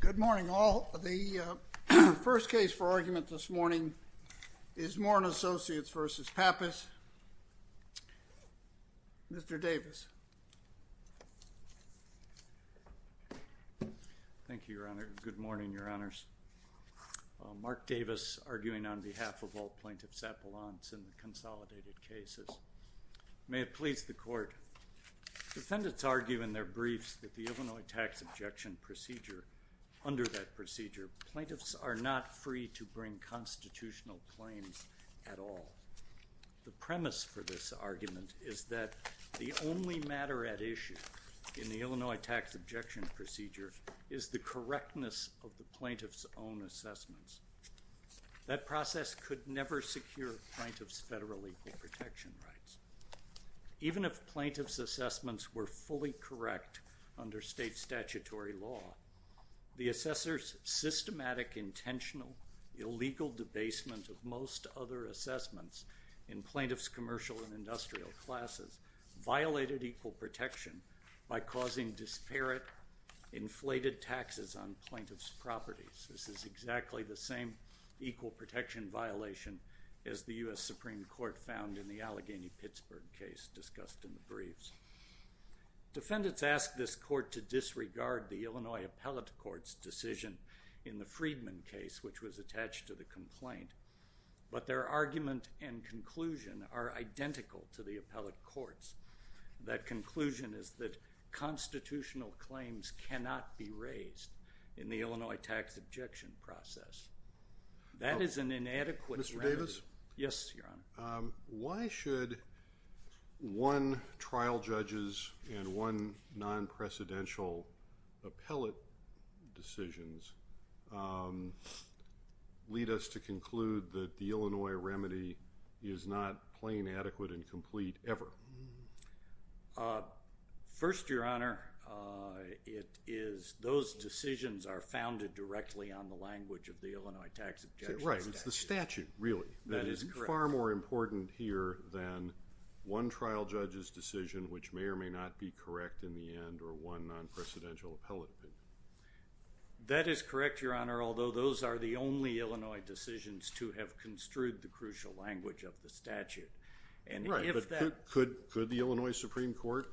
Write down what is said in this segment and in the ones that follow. Good morning, all. The first case for argument this morning is Moore & Associates v. Pappas. Mr. Davis. Thank you, Your Honor. Good morning, Your Honors. Mark Davis, arguing on behalf of all plaintiffs' appellants in the consolidated cases. May it please the Court, Defendants argue in their briefs that the Illinois tax objection procedure, under that procedure, plaintiffs are not free to bring constitutional claims at all. The premise for this argument is that the only matter at issue in the Illinois tax objection procedure is the correctness of the plaintiffs' own assessments. That process could never secure plaintiffs' federal equal protection rights. Even if plaintiffs' assessments were fully correct under state statutory law, the assessors' systematic, intentional, illegal debasement of most other assessments in plaintiffs' commercial and industrial classes violated equal protection by causing disparate inflated taxes on plaintiffs' properties. This is exactly the same equal protection violation as the U.S. Supreme Court found in the Allegheny-Pittsburgh case discussed in the briefs. Defendants ask this Court to disregard the Illinois Appellate Court's decision in the Freedman case, which was attached to the complaint. But their argument and conclusion are identical to the appellate court's. That conclusion is that constitutional claims cannot be raised in the Illinois tax objection process. That is an inadequate remedy. Mr. Davis? Yes, Your Honor. Why should one trial judges and one non-precedential appellate decisions lead us to conclude that the Illinois remedy is not plain, adequate, and complete ever? First, Your Honor, those decisions are founded directly on the language of the Illinois tax objection statute. That's the statute, really. That is correct. That is far more important here than one trial judge's decision, which may or may not be correct in the end, or one non-precedential appellate. That is correct, Your Honor, although those are the only Illinois decisions to have construed the crucial language of the statute. Right, but could the Illinois Supreme Court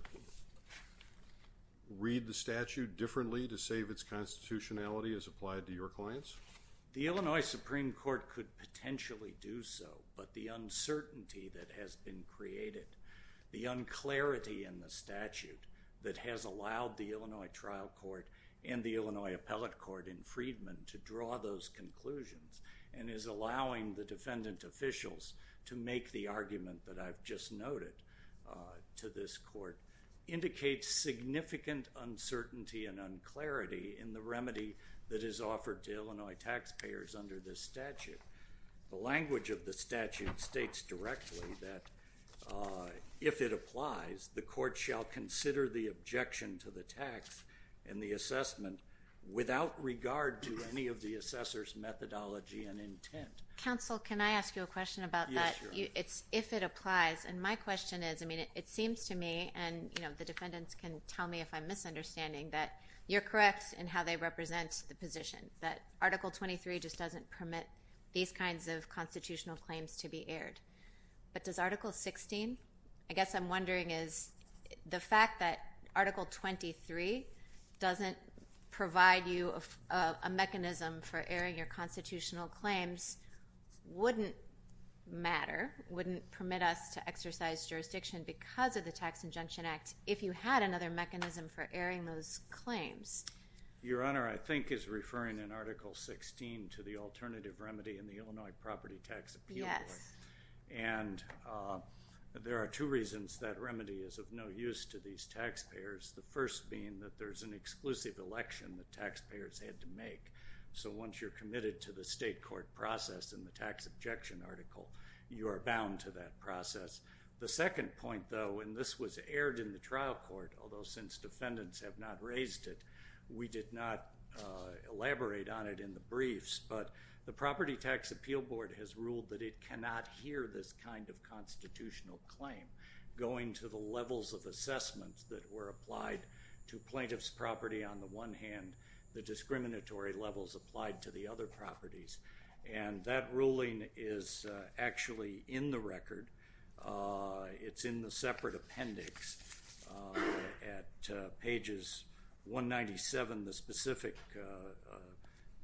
read the statute differently to save its constitutionality as applied to your clients? The Illinois Supreme Court could potentially do so, but the uncertainty that has been created, the unclarity in the statute that has allowed the Illinois trial court and the Illinois appellate court in Freedman to draw those conclusions, and is allowing the defendant officials to make the argument that I've just noted to this court, indicates significant uncertainty and unclarity in the remedy that is offered to Illinois taxpayers under this statute. The language of the statute states directly that if it applies, the court shall consider the objection to the tax and the assessment without regard to any of the assessor's methodology and intent. Counsel, can I ask you a question about that? Yes, Your Honor. If it applies, and my question is, I mean, it seems to me, and the defendants can tell me if I'm misunderstanding, that you're correct in how they represent the position, that Article 23 just doesn't permit these kinds of constitutional claims to be aired. But does Article 16? I guess I'm wondering is the fact that Article 23 doesn't provide you a mechanism for airing your constitutional claims wouldn't matter, wouldn't permit us to exercise jurisdiction because of the Tax Injunction Act, if you had another mechanism for airing those claims? Your Honor, I think is referring in Article 16 to the alternative remedy in the Illinois property tax appeal. Yes. And there are two reasons that remedy is of no use to these taxpayers, the first being that there's an exclusive election that taxpayers had to make. So once you're committed to the state court process and the tax objection article, you are bound to that process. The second point, though, and this was aired in the trial court, although since defendants have not raised it, we did not elaborate on it in the briefs, but the Property Tax Appeal Board has ruled that it cannot hear this kind of constitutional claim going to the levels of assessments that were applied to plaintiff's property on the one hand, the discriminatory levels applied to the other properties. And that ruling is actually in the record. It's in the separate appendix at pages 197. The specific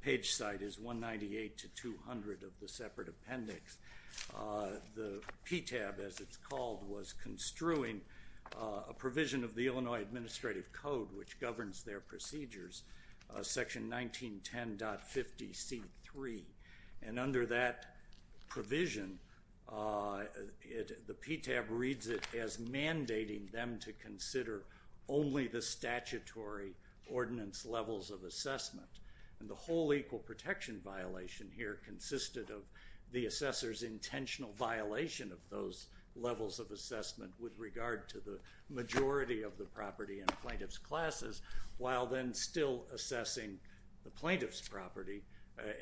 page site is 198 to 200 of the separate appendix. The PTAB, as it's called, was construing a provision of the Illinois Administrative Code, which governs their procedures, Section 1910.50C3. And under that provision, the PTAB reads it as mandating them to consider only the statutory ordinance levels of assessment. And the whole equal protection violation here consisted of the assessor's intentional violation of those levels of assessment with regard to the majority of the property in plaintiff's classes, while then still assessing the plaintiff's property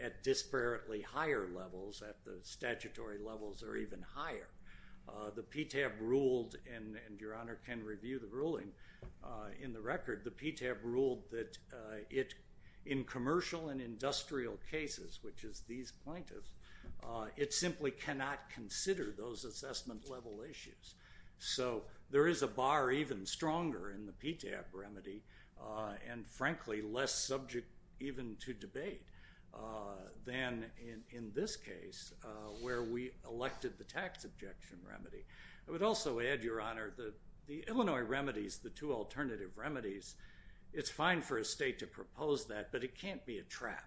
at disparately higher levels, at the statutory levels or even higher. The PTAB ruled, and Your Honor can review the ruling in the record, the PTAB ruled that in commercial and industrial cases, which is these plaintiffs, it simply cannot consider those assessment level issues. So there is a bar even stronger in the PTAB remedy and frankly less subject even to debate than in this case where we elected the tax objection remedy. I would also add, Your Honor, the Illinois remedies, the two alternative remedies, it's fine for a state to propose that, but it can't be a trap.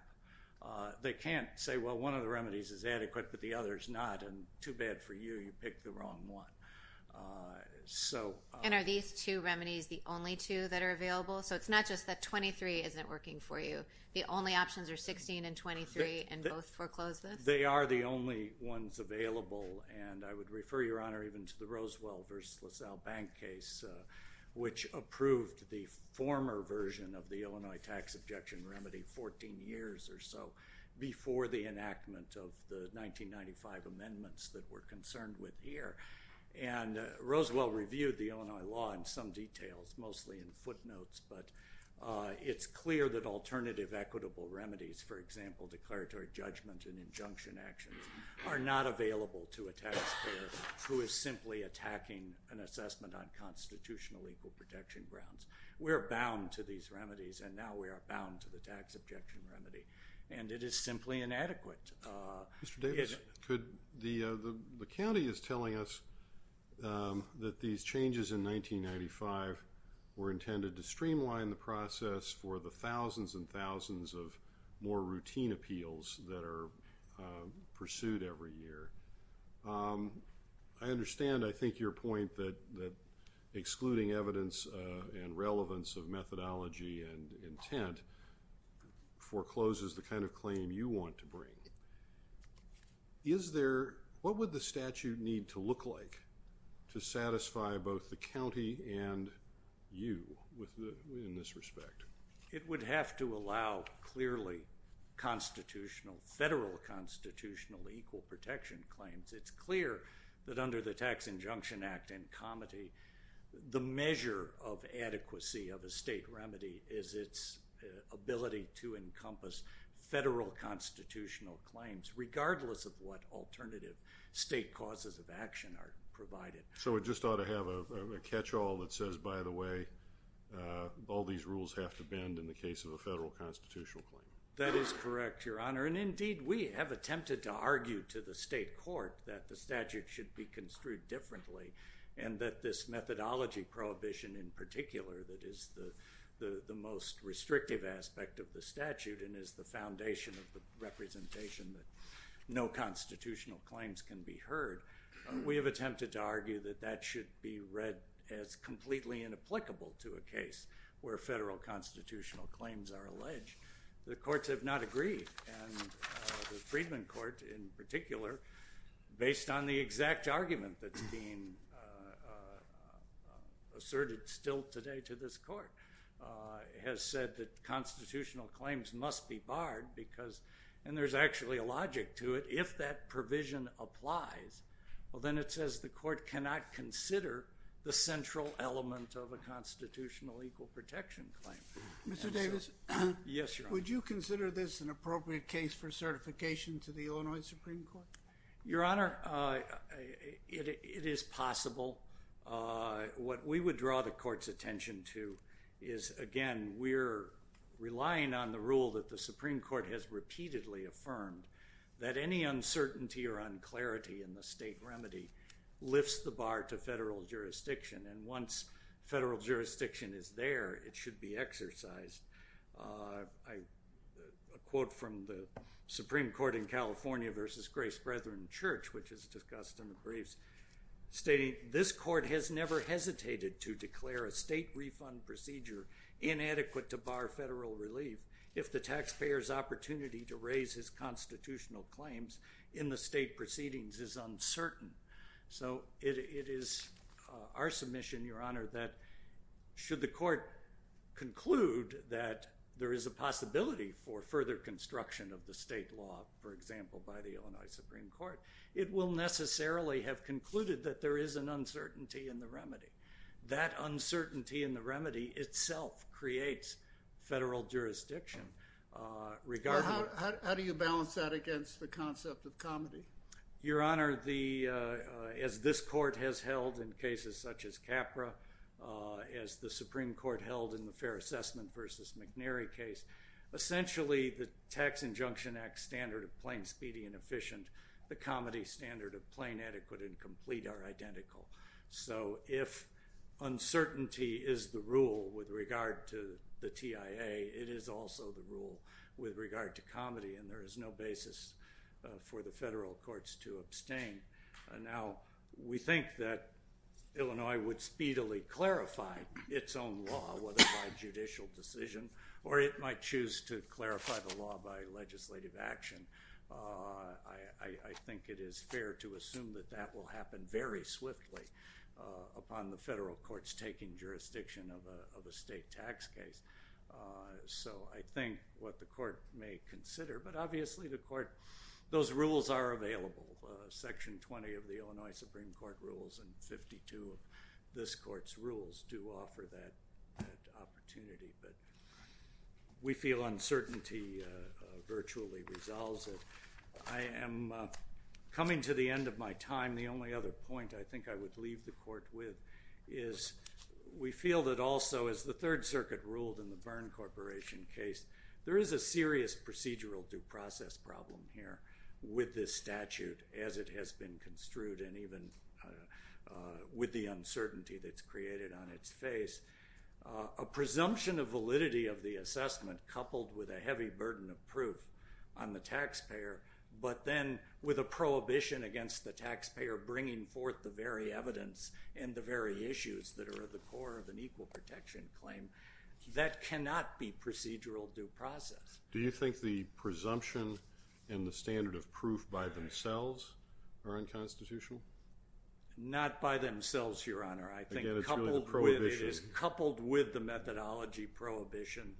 They can't say, well, one of the remedies is adequate, but the other is not, and too bad for you, you picked the wrong one. And are these two remedies the only two that are available? So it's not just that 23 isn't working for you. The only options are 16 and 23 and both foreclose this? They are the only ones available, and I would refer, Your Honor, even to the Roswell v. LaSalle Bank case, which approved the former version of the Illinois tax objection remedy 14 years or so before the enactment of the 1995 amendments that we're concerned with here. And Roswell reviewed the Illinois law in some details, mostly in footnotes, but it's clear that alternative equitable remedies, for example, declaratory judgment and injunction actions, are not available to a taxpayer who is simply attacking an assessment on constitutional equal protection grounds. We are bound to these remedies, and now we are bound to the tax objection remedy, and it is simply inadequate. Mr. Davis, the county is telling us that these changes in 1995 were intended to streamline the process for the thousands and thousands of more routine appeals that are pursued every year. I understand, I think, your point that excluding evidence and relevance of methodology and intent forecloses the kind of claim you want to bring. What would the statute need to look like to satisfy both the county and you in this respect? It would have to allow clearly federal constitutional equal protection claims. It's clear that under the Tax Injunction Act and COMETI, the measure of adequacy of a state remedy is its ability to encompass federal constitutional claims regardless of what alternative state causes of action are provided. So it just ought to have a catch-all that says, by the way, all these rules have to bend in the case of a federal constitutional claim. That is correct, Your Honor, and indeed we have attempted to argue to the state court that the statute should be construed differently and that this methodology prohibition in particular that is the most restrictive aspect of the statute and is the foundation of the representation that no constitutional claims can be heard. We have attempted to argue that that should be read as completely inapplicable to a case where federal constitutional claims are alleged. The courts have not agreed, and the Freedmen Court in particular, based on the exact argument that's being asserted still today to this court, has said that constitutional claims must be barred because, and there's actually a logic to it, if that provision applies, well then it says the court cannot consider the central element of a constitutional equal protection claim. Mr. Davis? Yes, Your Honor. Would you consider this an appropriate case for certification to the Illinois Supreme Court? Your Honor, it is possible. What we would draw the court's attention to is, again, we're relying on the rule that the Supreme Court has repeatedly affirmed that any uncertainty or unclarity in the state remedy lifts the bar to federal jurisdiction, and once federal jurisdiction is there, it should be exercised. A quote from the Supreme Court in California versus Grace Brethren Church, which is discussed in the briefs, stating, this court has never hesitated to declare a state refund procedure inadequate to bar federal relief if the taxpayer's opportunity to raise his constitutional claims in the state proceedings is uncertain. So it is our submission, Your Honor, that should the court conclude that there is a possibility for further construction of the state law, for example, by the Illinois Supreme Court, it will necessarily have concluded that there is an uncertainty in the remedy. That uncertainty in the remedy itself creates federal jurisdiction. How do you balance that against the concept of comedy? Your Honor, as this court has held in cases such as Capra, as the Supreme Court held in the Fair Assessment versus McNary case, essentially the Tax Injunction Act standard of plain speedy and efficient, the comedy standard of plain adequate and complete are identical. So if uncertainty is the rule with regard to the TIA, it is also the rule with regard to comedy, and there is no basis for the federal courts to abstain. Now, we think that Illinois would speedily clarify its own law, whether by judicial decision or it might choose to clarify the law by legislative action. I think it is fair to assume that that will happen very swiftly upon the federal courts taking jurisdiction of a state tax case. So I think what the court may consider, but obviously the court, those rules are available. Section 20 of the Illinois Supreme Court rules and 52 of this court's rules do offer that opportunity. But we feel uncertainty virtually resolves it. I am coming to the end of my time. The only other point I think I would leave the court with is we feel that also as the Third Circuit ruled in the Byrne Corporation case, there is a serious procedural due process problem here with this statute as it has been construed and even with the uncertainty that is created on its face. A presumption of validity of the assessment coupled with a heavy burden of proof on the taxpayer, but then with a prohibition against the taxpayer bringing forth the very evidence and the very issues that are at the core of an equal protection claim, that cannot be procedural due process. Do you think the presumption and the standard of proof by themselves are unconstitutional? Not by themselves, Your Honor. I think it is coupled with the methodology prohibition.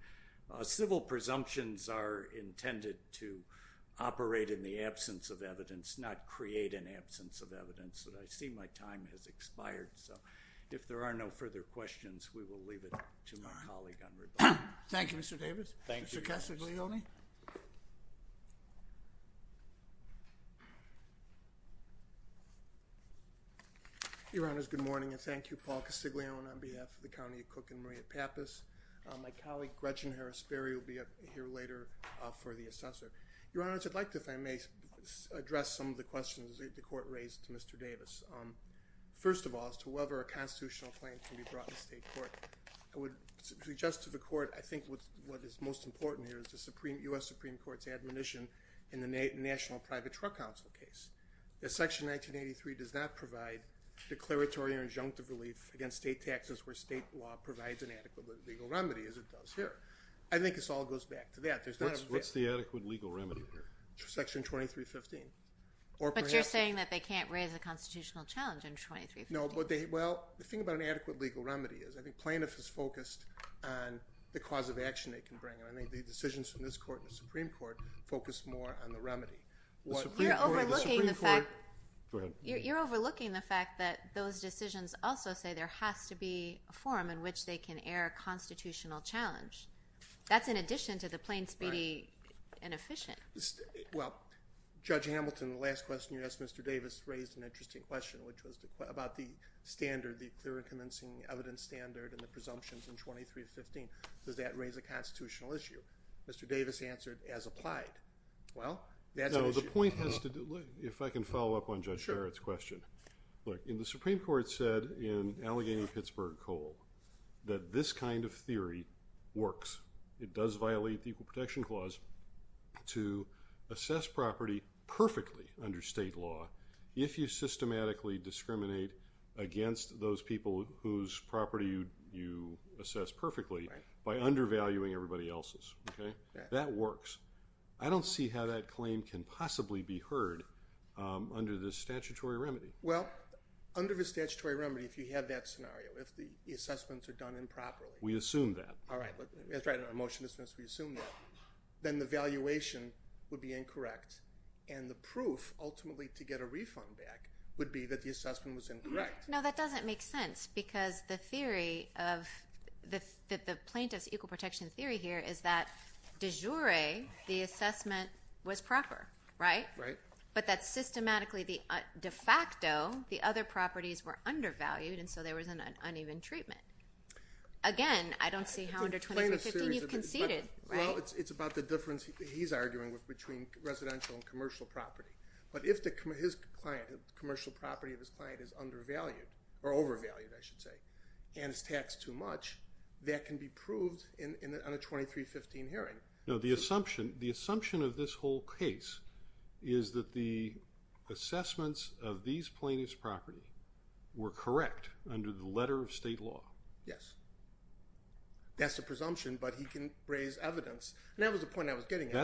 Civil presumptions are intended to operate in the absence of evidence, not create an absence of evidence. I see my time has expired, so if there are no further questions, we will leave it to my colleague on rebuttal. Thank you, Mr. Davis. Mr. Castiglione? Your Honors, good morning, and thank you, Paul Castiglione, on behalf of the County of Cook and Maria Pappas. My colleague Gretchen Harris-Berry will be here later for the assessor. Your Honors, I'd like to, if I may, address some of the questions that the Court raised to Mr. Davis. First of all, as to whether a constitutional claim can be brought to state court, I would suggest to the Court, I think what is most important here, is the U.S. Supreme Court's admonition in the National Private Truck Council case that Section 1983 does not provide declaratory or injunctive relief against state taxes where state law provides an adequate legal remedy, as it does here. I think this all goes back to that. What's the adequate legal remedy here? Section 2315. But you're saying that they can't raise a constitutional challenge in 2315. Well, the thing about an adequate legal remedy is, I think plaintiff is focused on the cause of action they can bring, and I think the decisions from this Court and the Supreme Court focus more on the remedy. You're overlooking the fact that those decisions also say there has to be a form in which they can air a constitutional challenge. That's in addition to the plain, speedy, and efficient. Well, Judge Hamilton, the last question you asked Mr. Davis raised an interesting question, which was about the standard, the clear and convincing evidence standard and the presumptions in 2315. Does that raise a constitutional issue? Mr. Davis answered, as applied. Well, that's an issue. No, the point has to do with, if I can follow up on Judge Barrett's question. Look, the Supreme Court said in Allegheny-Pittsburgh Coal that this kind of theory works. It does violate the Equal Protection Clause to assess property perfectly under state law if you systematically discriminate against those people whose property you assess perfectly by undervaluing everybody else's. That works. I don't see how that claim can possibly be heard under this statutory remedy. Well, under the statutory remedy, if you have that scenario, if the assessments are done improperly. We assume that. All right. That's right. In our motion to dismiss, we assume that. Then the valuation would be incorrect, and the proof ultimately to get a refund back would be that the assessment was incorrect. No, that doesn't make sense because the theory of the plaintiff's equal protection theory here is that de jure the assessment was proper, right? Right. But that systematically de facto the other properties were undervalued, and so there was an uneven treatment. Again, I don't see how under 2315 you've conceded, right? Well, it's about the difference he's arguing with between residential and commercial property. But if the commercial property of his client is undervalued or overvalued, I should say, and is taxed too much, that can be proved on a 2315 hearing. No, the assumption of this whole case is that the assessments of these plaintiff's property were correct under the letter of state law. Yes. That's the presumption, but he can raise evidence. And that was the point I was getting at, Your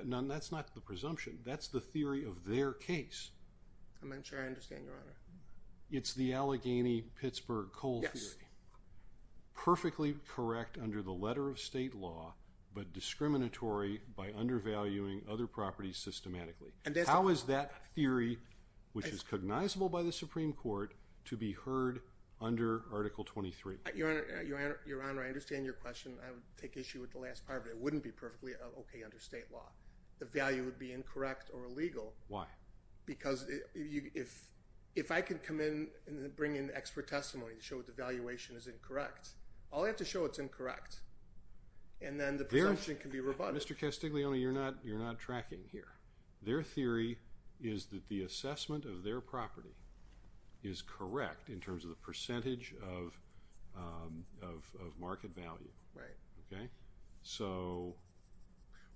Honor. No, that's not the presumption. That's the theory of their case. I'm not sure I understand, Your Honor. Yes. Perfectly correct under the letter of state law, but discriminatory by undervaluing other properties systematically. How is that theory, which is cognizable by the Supreme Court, to be heard under Article 23? Your Honor, I understand your question. I would take issue with the last part, but it wouldn't be perfectly okay under state law. The value would be incorrect or illegal. Why? Because if I could come in and bring in expert testimony to show the valuation is incorrect, all I have to show it's incorrect, and then the presumption can be rebutted. Mr. Castiglione, you're not tracking here. Their theory is that the assessment of their property is correct in terms of the percentage of market value. Right. Okay? So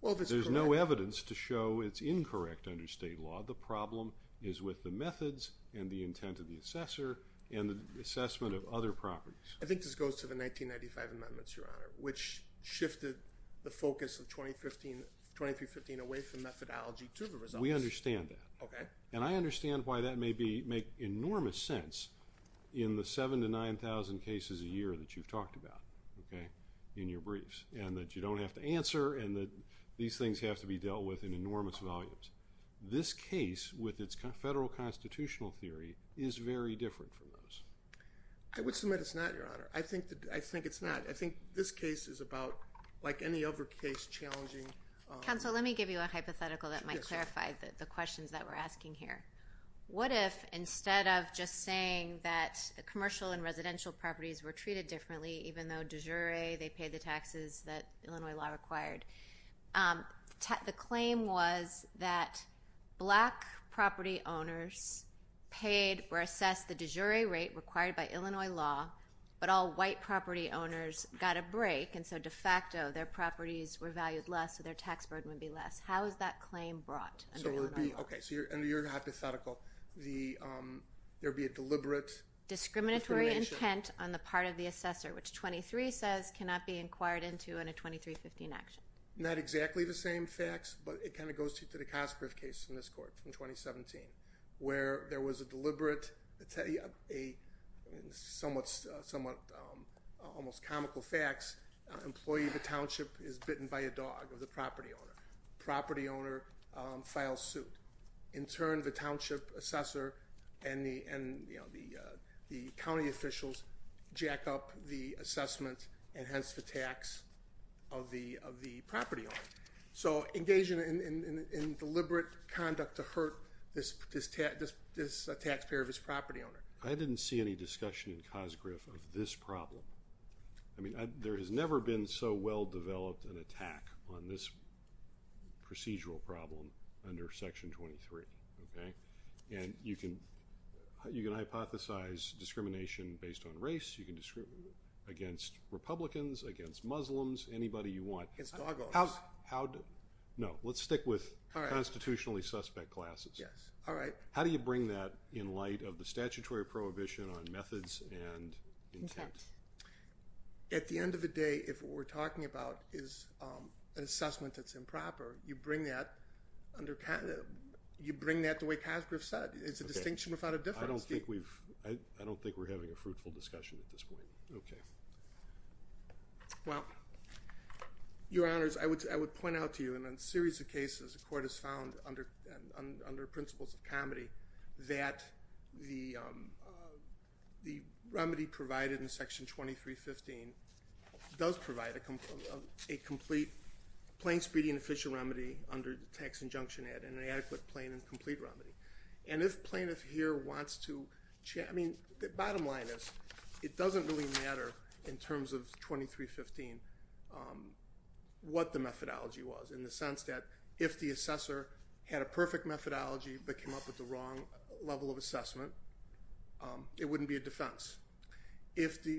there's no evidence to show it's incorrect under state law. The problem is with the methods and the intent of the assessor and the assessment of other properties. I think this goes to the 1995 amendments, Your Honor, which shifted the focus of 2315 away from methodology to the results. We understand that. Okay. And I understand why that may make enormous sense in the 7,000 to 9,000 cases a year that you've talked about in your briefs. And that you don't have to answer and that these things have to be dealt with in enormous volumes. This case, with its federal constitutional theory, is very different from those. I would submit it's not, Your Honor. I think it's not. I think this case is about, like any other case, challenging. Counsel, let me give you a hypothetical that might clarify the questions that we're asking here. What if, instead of just saying that commercial and residential properties were treated differently, even though de jure they paid the taxes that Illinois law required, the claim was that black property owners were assessed the de jure rate required by Illinois law, but all white property owners got a break, and so de facto their properties were valued less, so their tax burden would be less. How is that claim brought under Illinois law? Okay, so under your hypothetical, there would be a deliberate discrimination. The intent on the part of the assessor, which 23 says cannot be inquired into in a 2315 action. Not exactly the same facts, but it kind of goes to the Cosgrove case in this court from 2017, where there was a deliberate somewhat almost comical facts. Employee of the township is bitten by a dog of the property owner. Property owner files suit. In turn, the township assessor and the county officials jack up the assessment, and hence the tax of the property owner. So engaging in deliberate conduct to hurt this taxpayer of his property owner. I didn't see any discussion in Cosgrove of this problem. I mean, there has never been so well developed an attack on this procedural problem under Section 23, okay? And you can hypothesize discrimination based on race. You can discriminate against Republicans, against Muslims, anybody you want. Against dog owners. No, let's stick with constitutionally suspect classes. Yes. All right. How do you bring that in light of the statutory prohibition on methods and intent? At the end of the day, if what we're talking about is an assessment that's improper, you bring that the way Cosgrove said. It's a distinction without a difference. I don't think we're having a fruitful discussion at this point. Okay. Well, Your Honors, I would point out to you in a series of cases the court has found under principles of comedy that the remedy provided in Section 2315 does provide a complete plain speeding official remedy under the Tax Injunction Act and an adequate, plain, and complete remedy. And if Plaintiff here wants to chat, I mean, the bottom line is it doesn't really matter in terms of 2315 what the methodology was in the sense that if the assessor had a perfect methodology but came up with the wrong level of assessment, it wouldn't be a defense. If the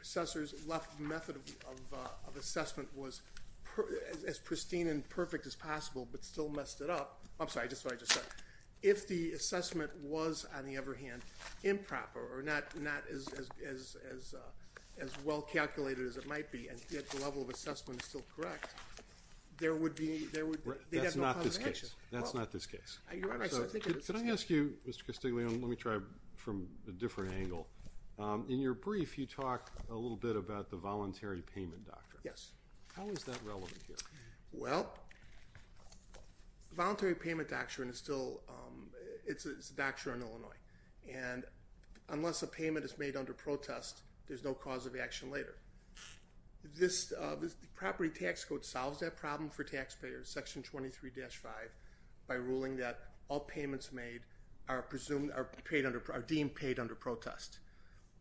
assessor's left method of assessment was as pristine and perfect as possible but still messed it up, I'm sorry, just what I just said, if the assessment was, on the other hand, improper or not as well calculated as it might be and yet the level of assessment is still correct, there would be, they would, they'd have no complication. That's not this case. That's not this case. Your Honor, I think it is this case. Could I ask you, Mr. Castiglione, let me try from a different angle. In your brief, you talk a little bit about the voluntary payment doctrine. Yes. How is that relevant here? Well, voluntary payment doctrine is still, it's a doctrine in Illinois, and unless a payment is made under protest, there's no cause of action later. This property tax code solves that problem for taxpayers, Section 23-5, by ruling that all payments made are deemed paid under protest.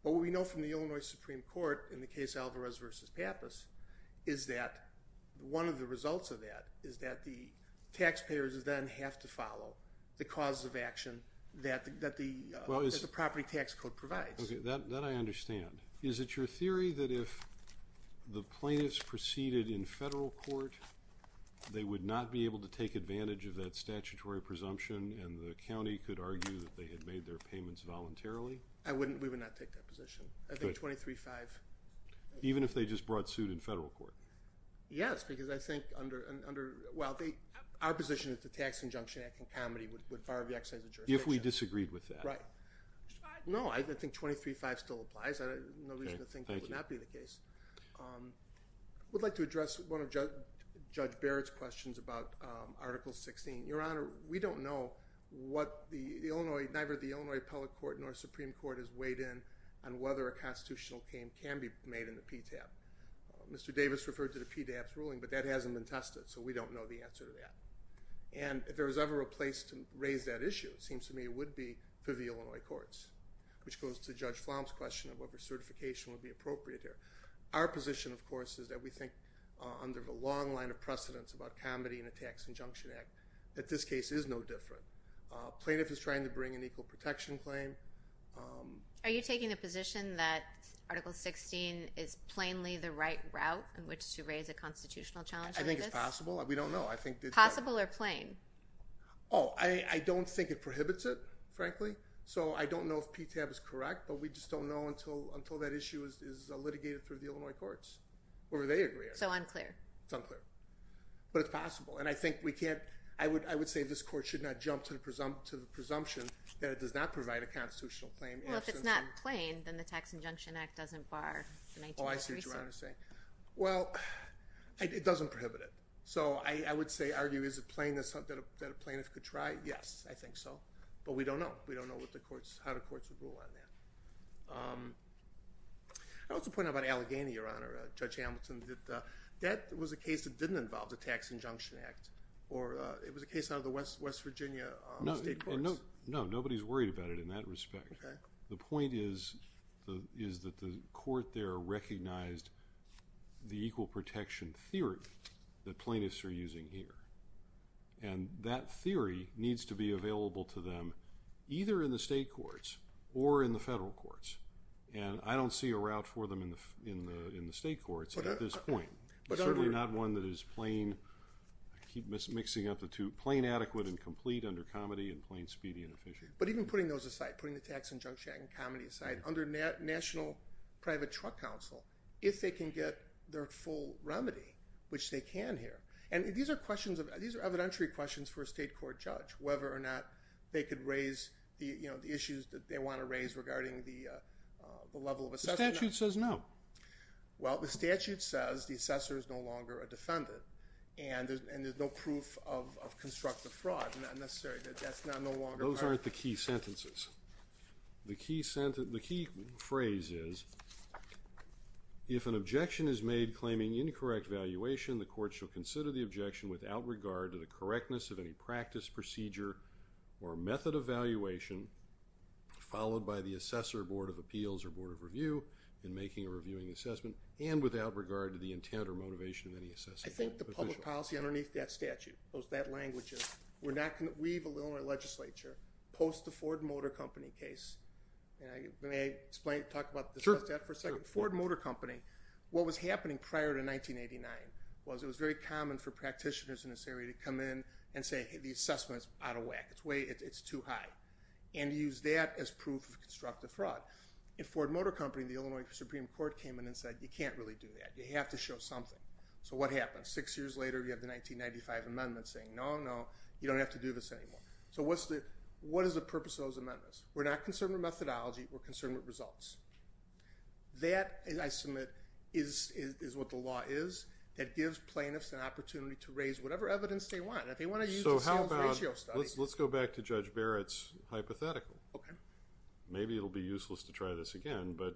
What we know from the Illinois Supreme Court in the case Alvarez v. Pappas is that one of the results of that is that the taxpayers then have to follow the cause of action that the property tax code provides. Okay, that I understand. Is it your theory that if the plaintiffs proceeded in federal court, they would not be able to take advantage of that statutory presumption and the county could argue that they had made their payments voluntarily? I wouldn't, we would not take that position. Okay. I think 23-5. Even if they just brought suit in federal court? Yes, because I think under, well, our position is the Tax Injunction Act and comedy would fire the exercise of jurisdiction. If we disagreed with that. Right. No, I think 23-5 still applies. There's no reason to think it would not be the case. I would like to address one of Judge Barrett's questions about Article 16. Your Honor, we don't know what the Illinois, neither the Illinois Appellate Court nor Supreme Court has weighed in on whether a constitutional claim can be made in the PTAB. Mr. Davis referred to the PTAB's ruling, but that hasn't been tested, so we don't know the answer to that. And if there was ever a place to raise that issue, it seems to me it would be through the Illinois courts, which goes to Judge Flom's question of whether certification would be appropriate here. Our position, of course, is that we think, under the long line of precedence about comedy in the Tax Injunction Act, that this case is no different. Plaintiff is trying to bring an equal protection claim. Are you taking a position that Article 16 is plainly the right route in which to raise a constitutional challenge like this? I think it's possible. We don't know. Possible or plain? Oh, I don't think it prohibits it, frankly. So I don't know if PTAB is correct, but we just don't know until that issue is litigated through the Illinois courts, or they agree on it. So unclear. It's unclear. But it's possible, and I think we can't, I would say this court should not jump to the presumption that it does not provide a constitutional claim. Well, if it's not plain, then the Tax Injunction Act doesn't bar the 19th Amendment. Oh, I see what you're trying to say. Well, it doesn't prohibit it. So I would argue, is it plain that a plaintiff could try? Yes, I think so. But we don't know. We don't know how the courts would rule on that. I also pointed out about Allegheny, Your Honor, Judge Hamilton, that that was a case that didn't involve the Tax Injunction Act, or it was a case out of the West Virginia state courts. No, nobody's worried about it in that respect. Okay. The point is that the court there recognized the equal protection theory that plaintiffs are using here. And that theory needs to be available to them, either in the state courts or in the federal courts. And I don't see a route for them in the state courts at this point. But certainly not one that is plain, I keep mixing up the two, plain adequate and complete under comedy, and plain speedy and efficient. But even putting those aside, putting the Tax Injunction Act and comedy aside, under National Private Truck Council, if they can get their full remedy, which they can here. And these are evidentiary questions for a state court judge, whether or not they could raise the issues that they want to raise regarding the level of assessment. The statute says no. Well, the statute says the assessor is no longer a defendant, and there's no proof of constructive fraud. Not necessary. That's no longer part of it. Those aren't the key sentences. The key phrase is, if an objection is made claiming incorrect valuation, the court shall consider the objection without regard to the correctness of any practice, procedure, or method of valuation, followed by the assessor, board of appeals, or board of review, in making a reviewing assessment, and without regard to the intent or motivation of any assessment. I think the public policy underneath that statute, that language, is we're not going to leave the Illinois legislature post the Ford Motor Company case. May I talk about that for a second? Sure. Ford Motor Company, what was happening prior to 1989, was it was very common for practitioners in this area to come in and say, hey, the assessment is out of whack. It's too high. And use that as proof of constructive fraud. In Ford Motor Company, the Illinois Supreme Court came in and said, you can't really do that. You have to show something. So what happened? Six years later, you have the 1995 amendment saying, no, no. You don't have to do this anymore. So what is the purpose of those amendments? We're not concerned with methodology. We're concerned with results. That, I submit, is what the law is. It gives plaintiffs an opportunity to raise whatever evidence they want. If they want to use the sales ratio study. Let's go back to Judge Barrett's hypothetical. Okay. Maybe it will be useless to try this again, but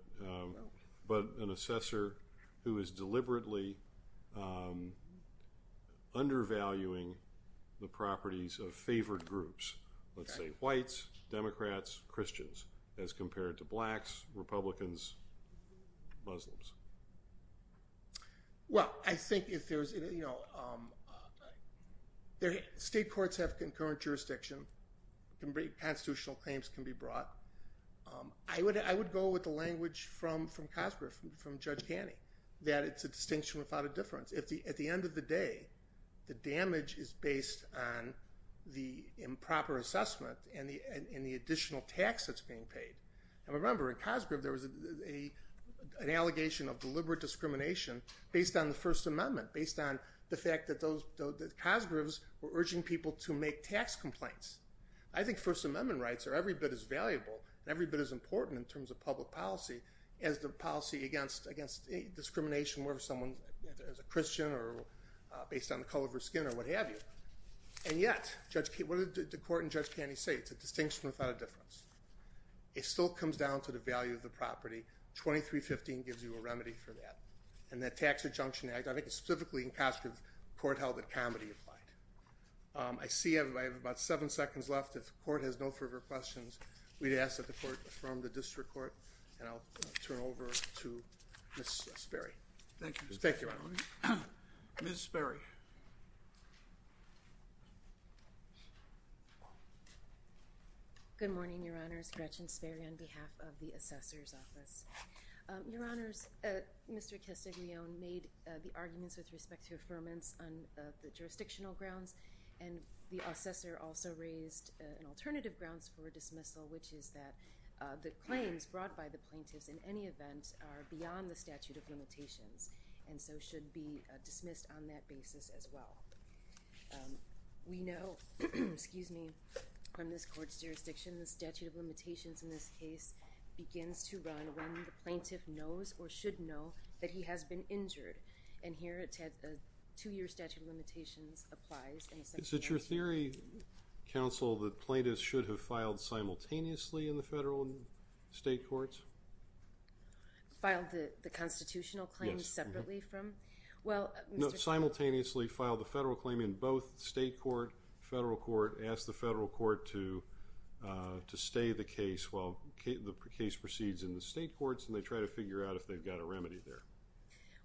an assessor who is deliberately undervaluing the properties of favored groups, let's say whites, Democrats, Christians, as compared to blacks, Republicans, Muslims. Well, I think if there's, you know, state courts have concurrent jurisdiction. Constitutional claims can be brought. I would go with the language from Cosgrove, from Judge Caney, that it's a distinction without a difference. At the end of the day, the damage is based on the improper assessment and the additional tax that's being paid. Now, remember, in Cosgrove there was an allegation of deliberate discrimination based on the First Amendment, based on the fact that Cosgroves were urging people to make tax complaints. I think First Amendment rights are every bit as valuable and every bit as important in terms of public policy as the policy against discrimination where someone is a Christian or based on the color of their skin or what have you. And yet, what did the court in Judge Caney say? It's a distinction without a difference. It still comes down to the value of the property. 2315 gives you a remedy for that. And that Tax Adjunction Act, I think it's specifically in Cosgrove, the court held that comedy applied. I see I have about seven seconds left. If the court has no further questions, we'd ask that the court affirm the district court. And I'll turn it over to Ms. Sperry. Thank you. Thank you, Your Honor. Ms. Sperry. Good morning, Your Honors. Gretchen Sperry on behalf of the Assessor's Office. Your Honors, Mr. Castiglione made the arguments with respect to grounds and the assessor also raised an alternative grounds for dismissal, which is that the claims brought by the plaintiffs in any event are beyond the statute of limitations and so should be dismissed on that basis as well. We know from this court's jurisdiction, the statute of limitations in this case begins to run when the plaintiff knows or should know that he has been injured. And here it said the two-year statute of limitations applies. Is it your theory, counsel, that plaintiffs should have filed simultaneously in the federal and state courts? Filed the constitutional claims separately from? No, simultaneously filed the federal claim in both state court, federal court, asked the federal court to stay the case while the case proceeds in the state courts and they try to figure out if they've got a remedy there.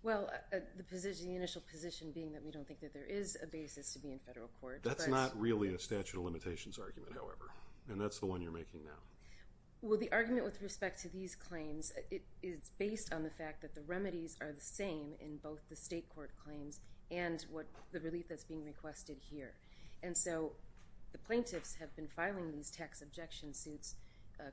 Well, the position, the initial position being that we don't think that there is a basis to be in federal court. That's not really a statute of limitations argument, however, and that's the one you're making now. Well, the argument with respect to these claims, it is based on the fact that the remedies are the same in both the state court claims and what the relief that's being requested here. And so the plaintiffs have been filing these tax objection suits,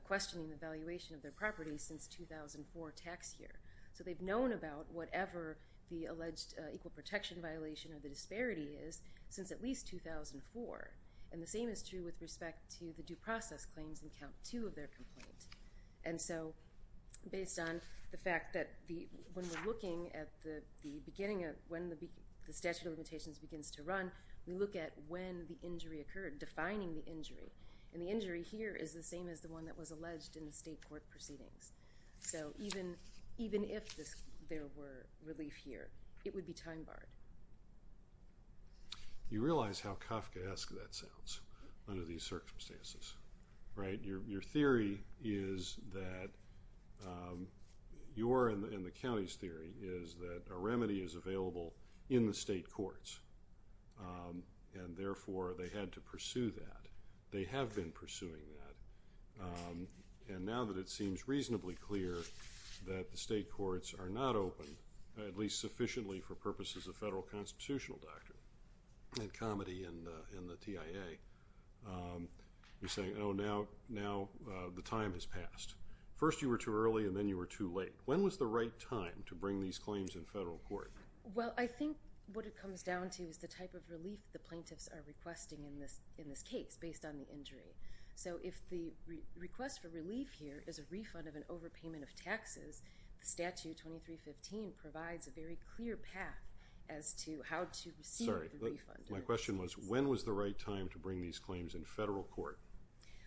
questioning the valuation of their property since 2004 tax year. So they've known about whatever the alleged equal protection violation of the disparity is since at least 2004. And the same is true with respect to the due process claims in count two of their complaint. And so based on the fact that the, when we're looking at the beginning of when the statute of limitations begins to run, we look at when the injury occurred, defining the injury. And the injury here is the same as the one that was alleged in the state court proceedings. So even if there were relief here, it would be time barred. You realize how Kafkaesque that sounds under these circumstances, right? Your theory is that your and the county's theory is that a remedy is available in the state courts. And therefore they had to pursue that. They have been pursuing that. And now that it seems reasonably clear that the state courts are not open, at least sufficiently for purposes of federal constitutional doctrine and comedy in the, in the TIA, you're saying, Oh, now, now the time has passed. First you were too early and then you were too late. When was the right time to bring these claims in federal court? Well, I think what it comes down to is the type of relief the plaintiffs are requesting in this, in this case based on the injury. So if the request for relief here is a refund of an overpayment of taxes, the statute 2315 provides a very clear path as to how to receive. Sorry. My question was when was the right time to bring these claims in federal court?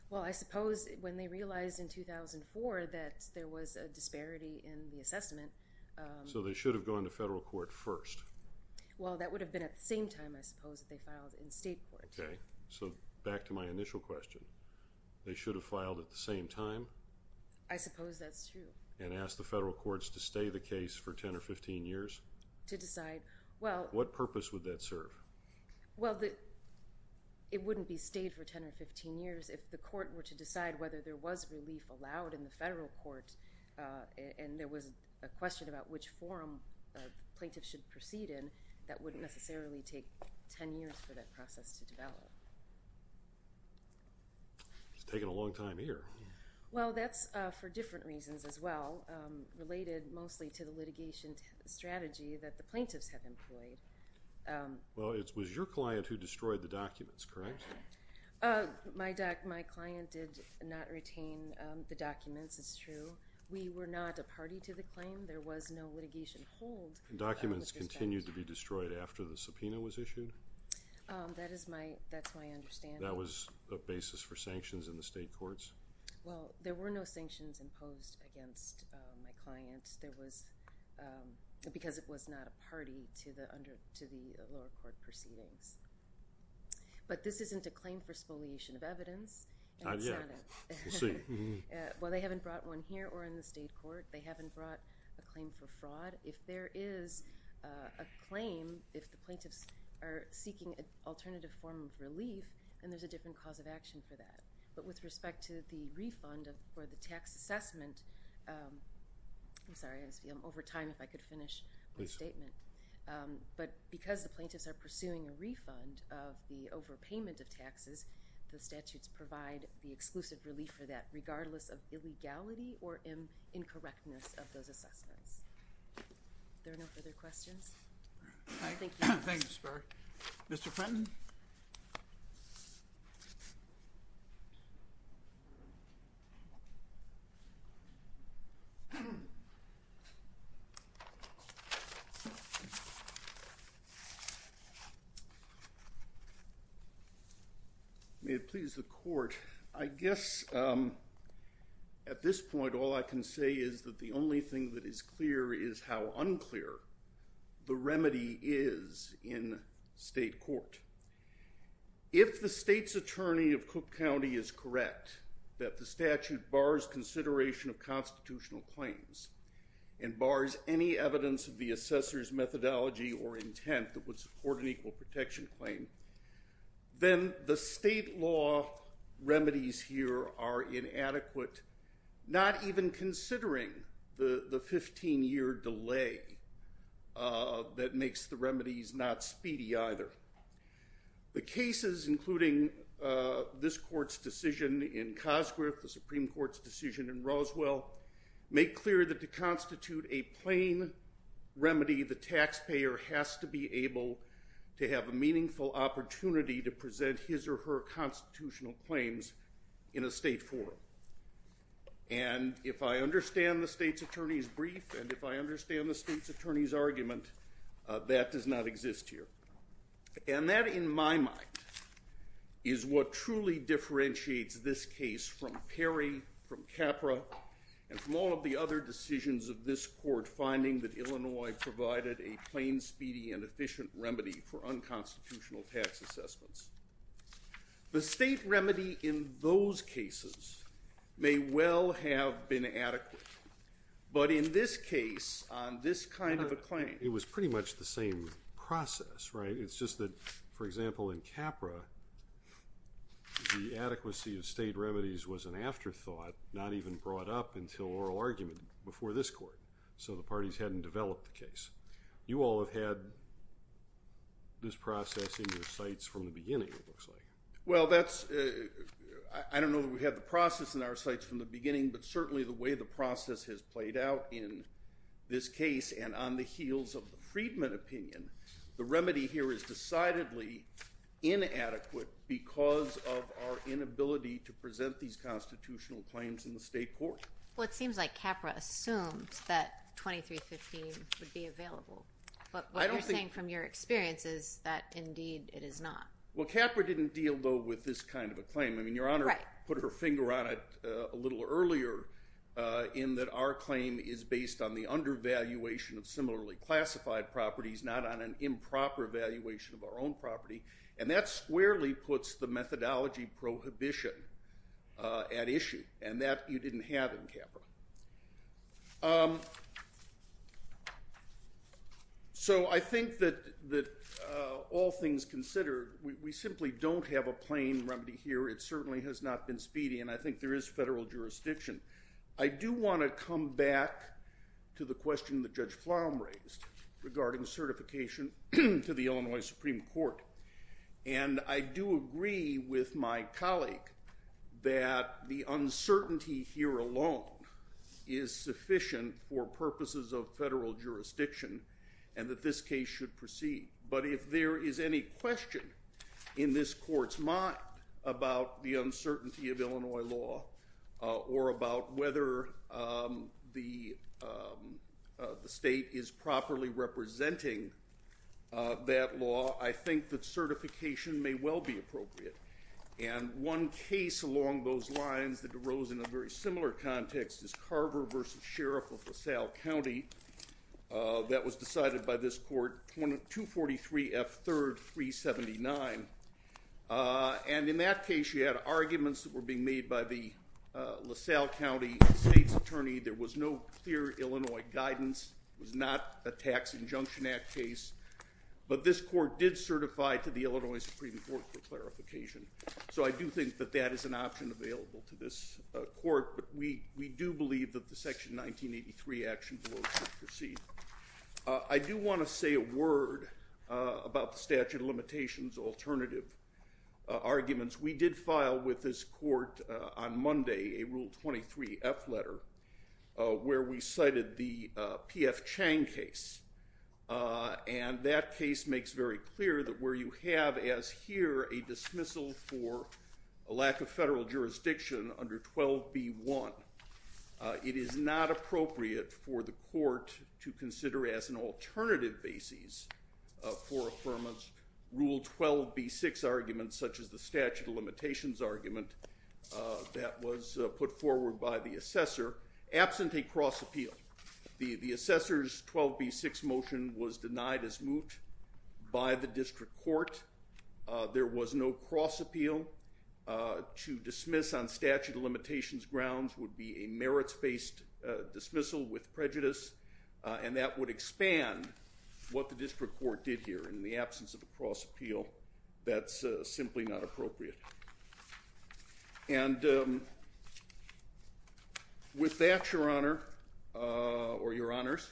Well, I suppose when they realized in 2004 that there was a disparity in the assessment. So they should have gone to federal court first. Well, that would have been at the same time I suppose that they filed in state court. Okay. So back to my initial question, they should have filed at the same time. I suppose that's true. And ask the federal courts to stay the case for 10 or 15 years to decide well, what purpose would that serve? Well, the, it wouldn't be stayed for 10 or 15 years if the court were to decide whether there was relief allowed in the federal court. Uh, and there was a question about which forum a plaintiff should proceed in that wouldn't necessarily take 10 years for that process to develop. It's taken a long time here. Well, that's for different reasons as well. Um, related mostly to the litigation strategy that the plaintiffs have employed. Um, well it was your client who destroyed the documents, correct? Uh, my doc, my client did not retain the documents. It's true. We were not a party to the claim. There was no litigation hold. Documents continued to be destroyed after the subpoena was issued. Um, that is my, that's my understanding. That was a basis for sanctions in the state courts. Well, there were no sanctions imposed against my client. There was, um, because it was not a party to the under, to the lower court proceedings, but this isn't a claim for spoliation of evidence. Not yet. We'll see. Well, they haven't brought one here or in the state court. They haven't brought a claim for fraud. If there is, uh, a claim, if the plaintiffs are seeking an alternative form of relief, then there's a different cause of action for that. But with respect to the refund for the tax assessment, um, I'm sorry, I'm over time. If I could finish the statement. Um, but because the plaintiffs are pursuing a refund of the overpayment of taxes, the statutes provide the exclusive relief for that regardless of illegality or in incorrectness of those assessments. There are no further questions. Thank you. Thanks for Mr. Fenton. May it please the court. I guess, um, at this point, all I can say is that the only thing that is clear is how unclear the remedy is in state court. If the state's attorney of Cook County is correct, that the statute bars consideration of constitutional claims and bars any evidence of the assessor's methodology or intent that would support an equal protection claim. Then the state law remedies here are inadequate. Not even considering the 15 year delay, uh, that makes the remedies not speedy either. The cases, including, uh, this court's decision in Cosgrove, the Supreme court's decision in Roswell make clear that to constitute a plane remedy, the taxpayer has to be able to have a meaningful opportunity to present his or her constitutional claims in a state forum. And if I understand the state's attorney's brief, and if I understand the state's attorney's argument, uh, that does not exist here. And that in my mind is what truly differentiates this case from Perry, from Capra, and from all of the other decisions of this court finding that Illinois provided a plain speedy and efficient remedy for unconstitutional tax assessments. The state remedy in those cases may well have been adequate, but in this case on this kind of a claim, it was pretty much the same process, right? It's just that, for example, in Capra, the adequacy of state remedies was an afterthought, not even brought up until oral argument before this court. So the parties hadn't developed the case. You all have had this process in your sights from the beginning. It looks like, well, that's, uh, I don't know that we have the process in our sites from the beginning, but certainly the way the process has played out in this case and on the heels of the Friedman opinion, the remedy here is decidedly inadequate because of our inability to present these constitutional claims in the state court. Well, it seems like Capra assumed that 2315 would be available, but what you're saying from your experience is that indeed it is not. Well, Capra didn't deal though with this kind of a claim. I mean, your honor put her finger on it a little earlier, uh, in that our claim is based on the undervaluation of similarly classified properties, not on an improper evaluation of our own property. And that's squarely puts the methodology prohibition, uh, at issue and that you didn't have in Capra. Um, so I think that, that, all things considered, we simply don't have a plain remedy here. It certainly has not been speedy. And I think there is federal jurisdiction. I do want to come back to the question that judge flum raised regarding certification to the Illinois Supreme court. And I do agree with my colleague that the uncertainty here alone is sufficient for purposes of federal jurisdiction and that this case should proceed. But if there is any question in this court's mind about the uncertainty of Illinois law, uh, or about whether, um, the, um, uh, the state is properly representing, uh, that law. I think that certification may well be appropriate. And one case along those lines that arose in a very similar context is Carver versus Sheriff of LaSalle County. That was decided by this court, one of two 43 F third three 79. Uh, and in that case you had arguments that were being made by the, uh, LaSalle County state's attorney. There was no clear Illinois guidance was not a tax injunction act case, but this court did certify to the Illinois Supreme court for clarification. So I do think that that is an option available to this court, but we, we do believe that the section 1983 action will proceed. Uh, I do want to say a word, uh, about the statute of limitations, alternative, uh, arguments we did file with this court, uh, on Monday, a rule 23 F letter, uh, where we cited the, uh, PF Chang case. Uh, and that case makes very clear that where you have as here, a dismissal for a lack of federal jurisdiction under 12 B one, uh, it is not appropriate for the court to consider as an alternative basis, uh, for affirmance rule 12 B six arguments such as the statute of limitations argument, uh, that was put forward by the assessor absent a cross appeal. The, the assessor's 12 B six motion was denied as moot by the district court. Uh, there was no cross appeal, uh, to dismiss on statute of limitations grounds would be a merits based, uh, dismissal with prejudice. Uh, and that would expand what the district court did here in the absence of a cross appeal. That's a simply not appropriate. And, um, with that, your honor, uh, or your honors,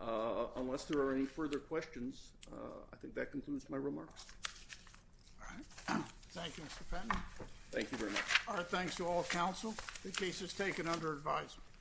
uh, unless there are any further questions, uh, I think that concludes my remarks. All right. Thank you. Thank you very much. All right. Thanks to all counsel. The case is taken under advisement.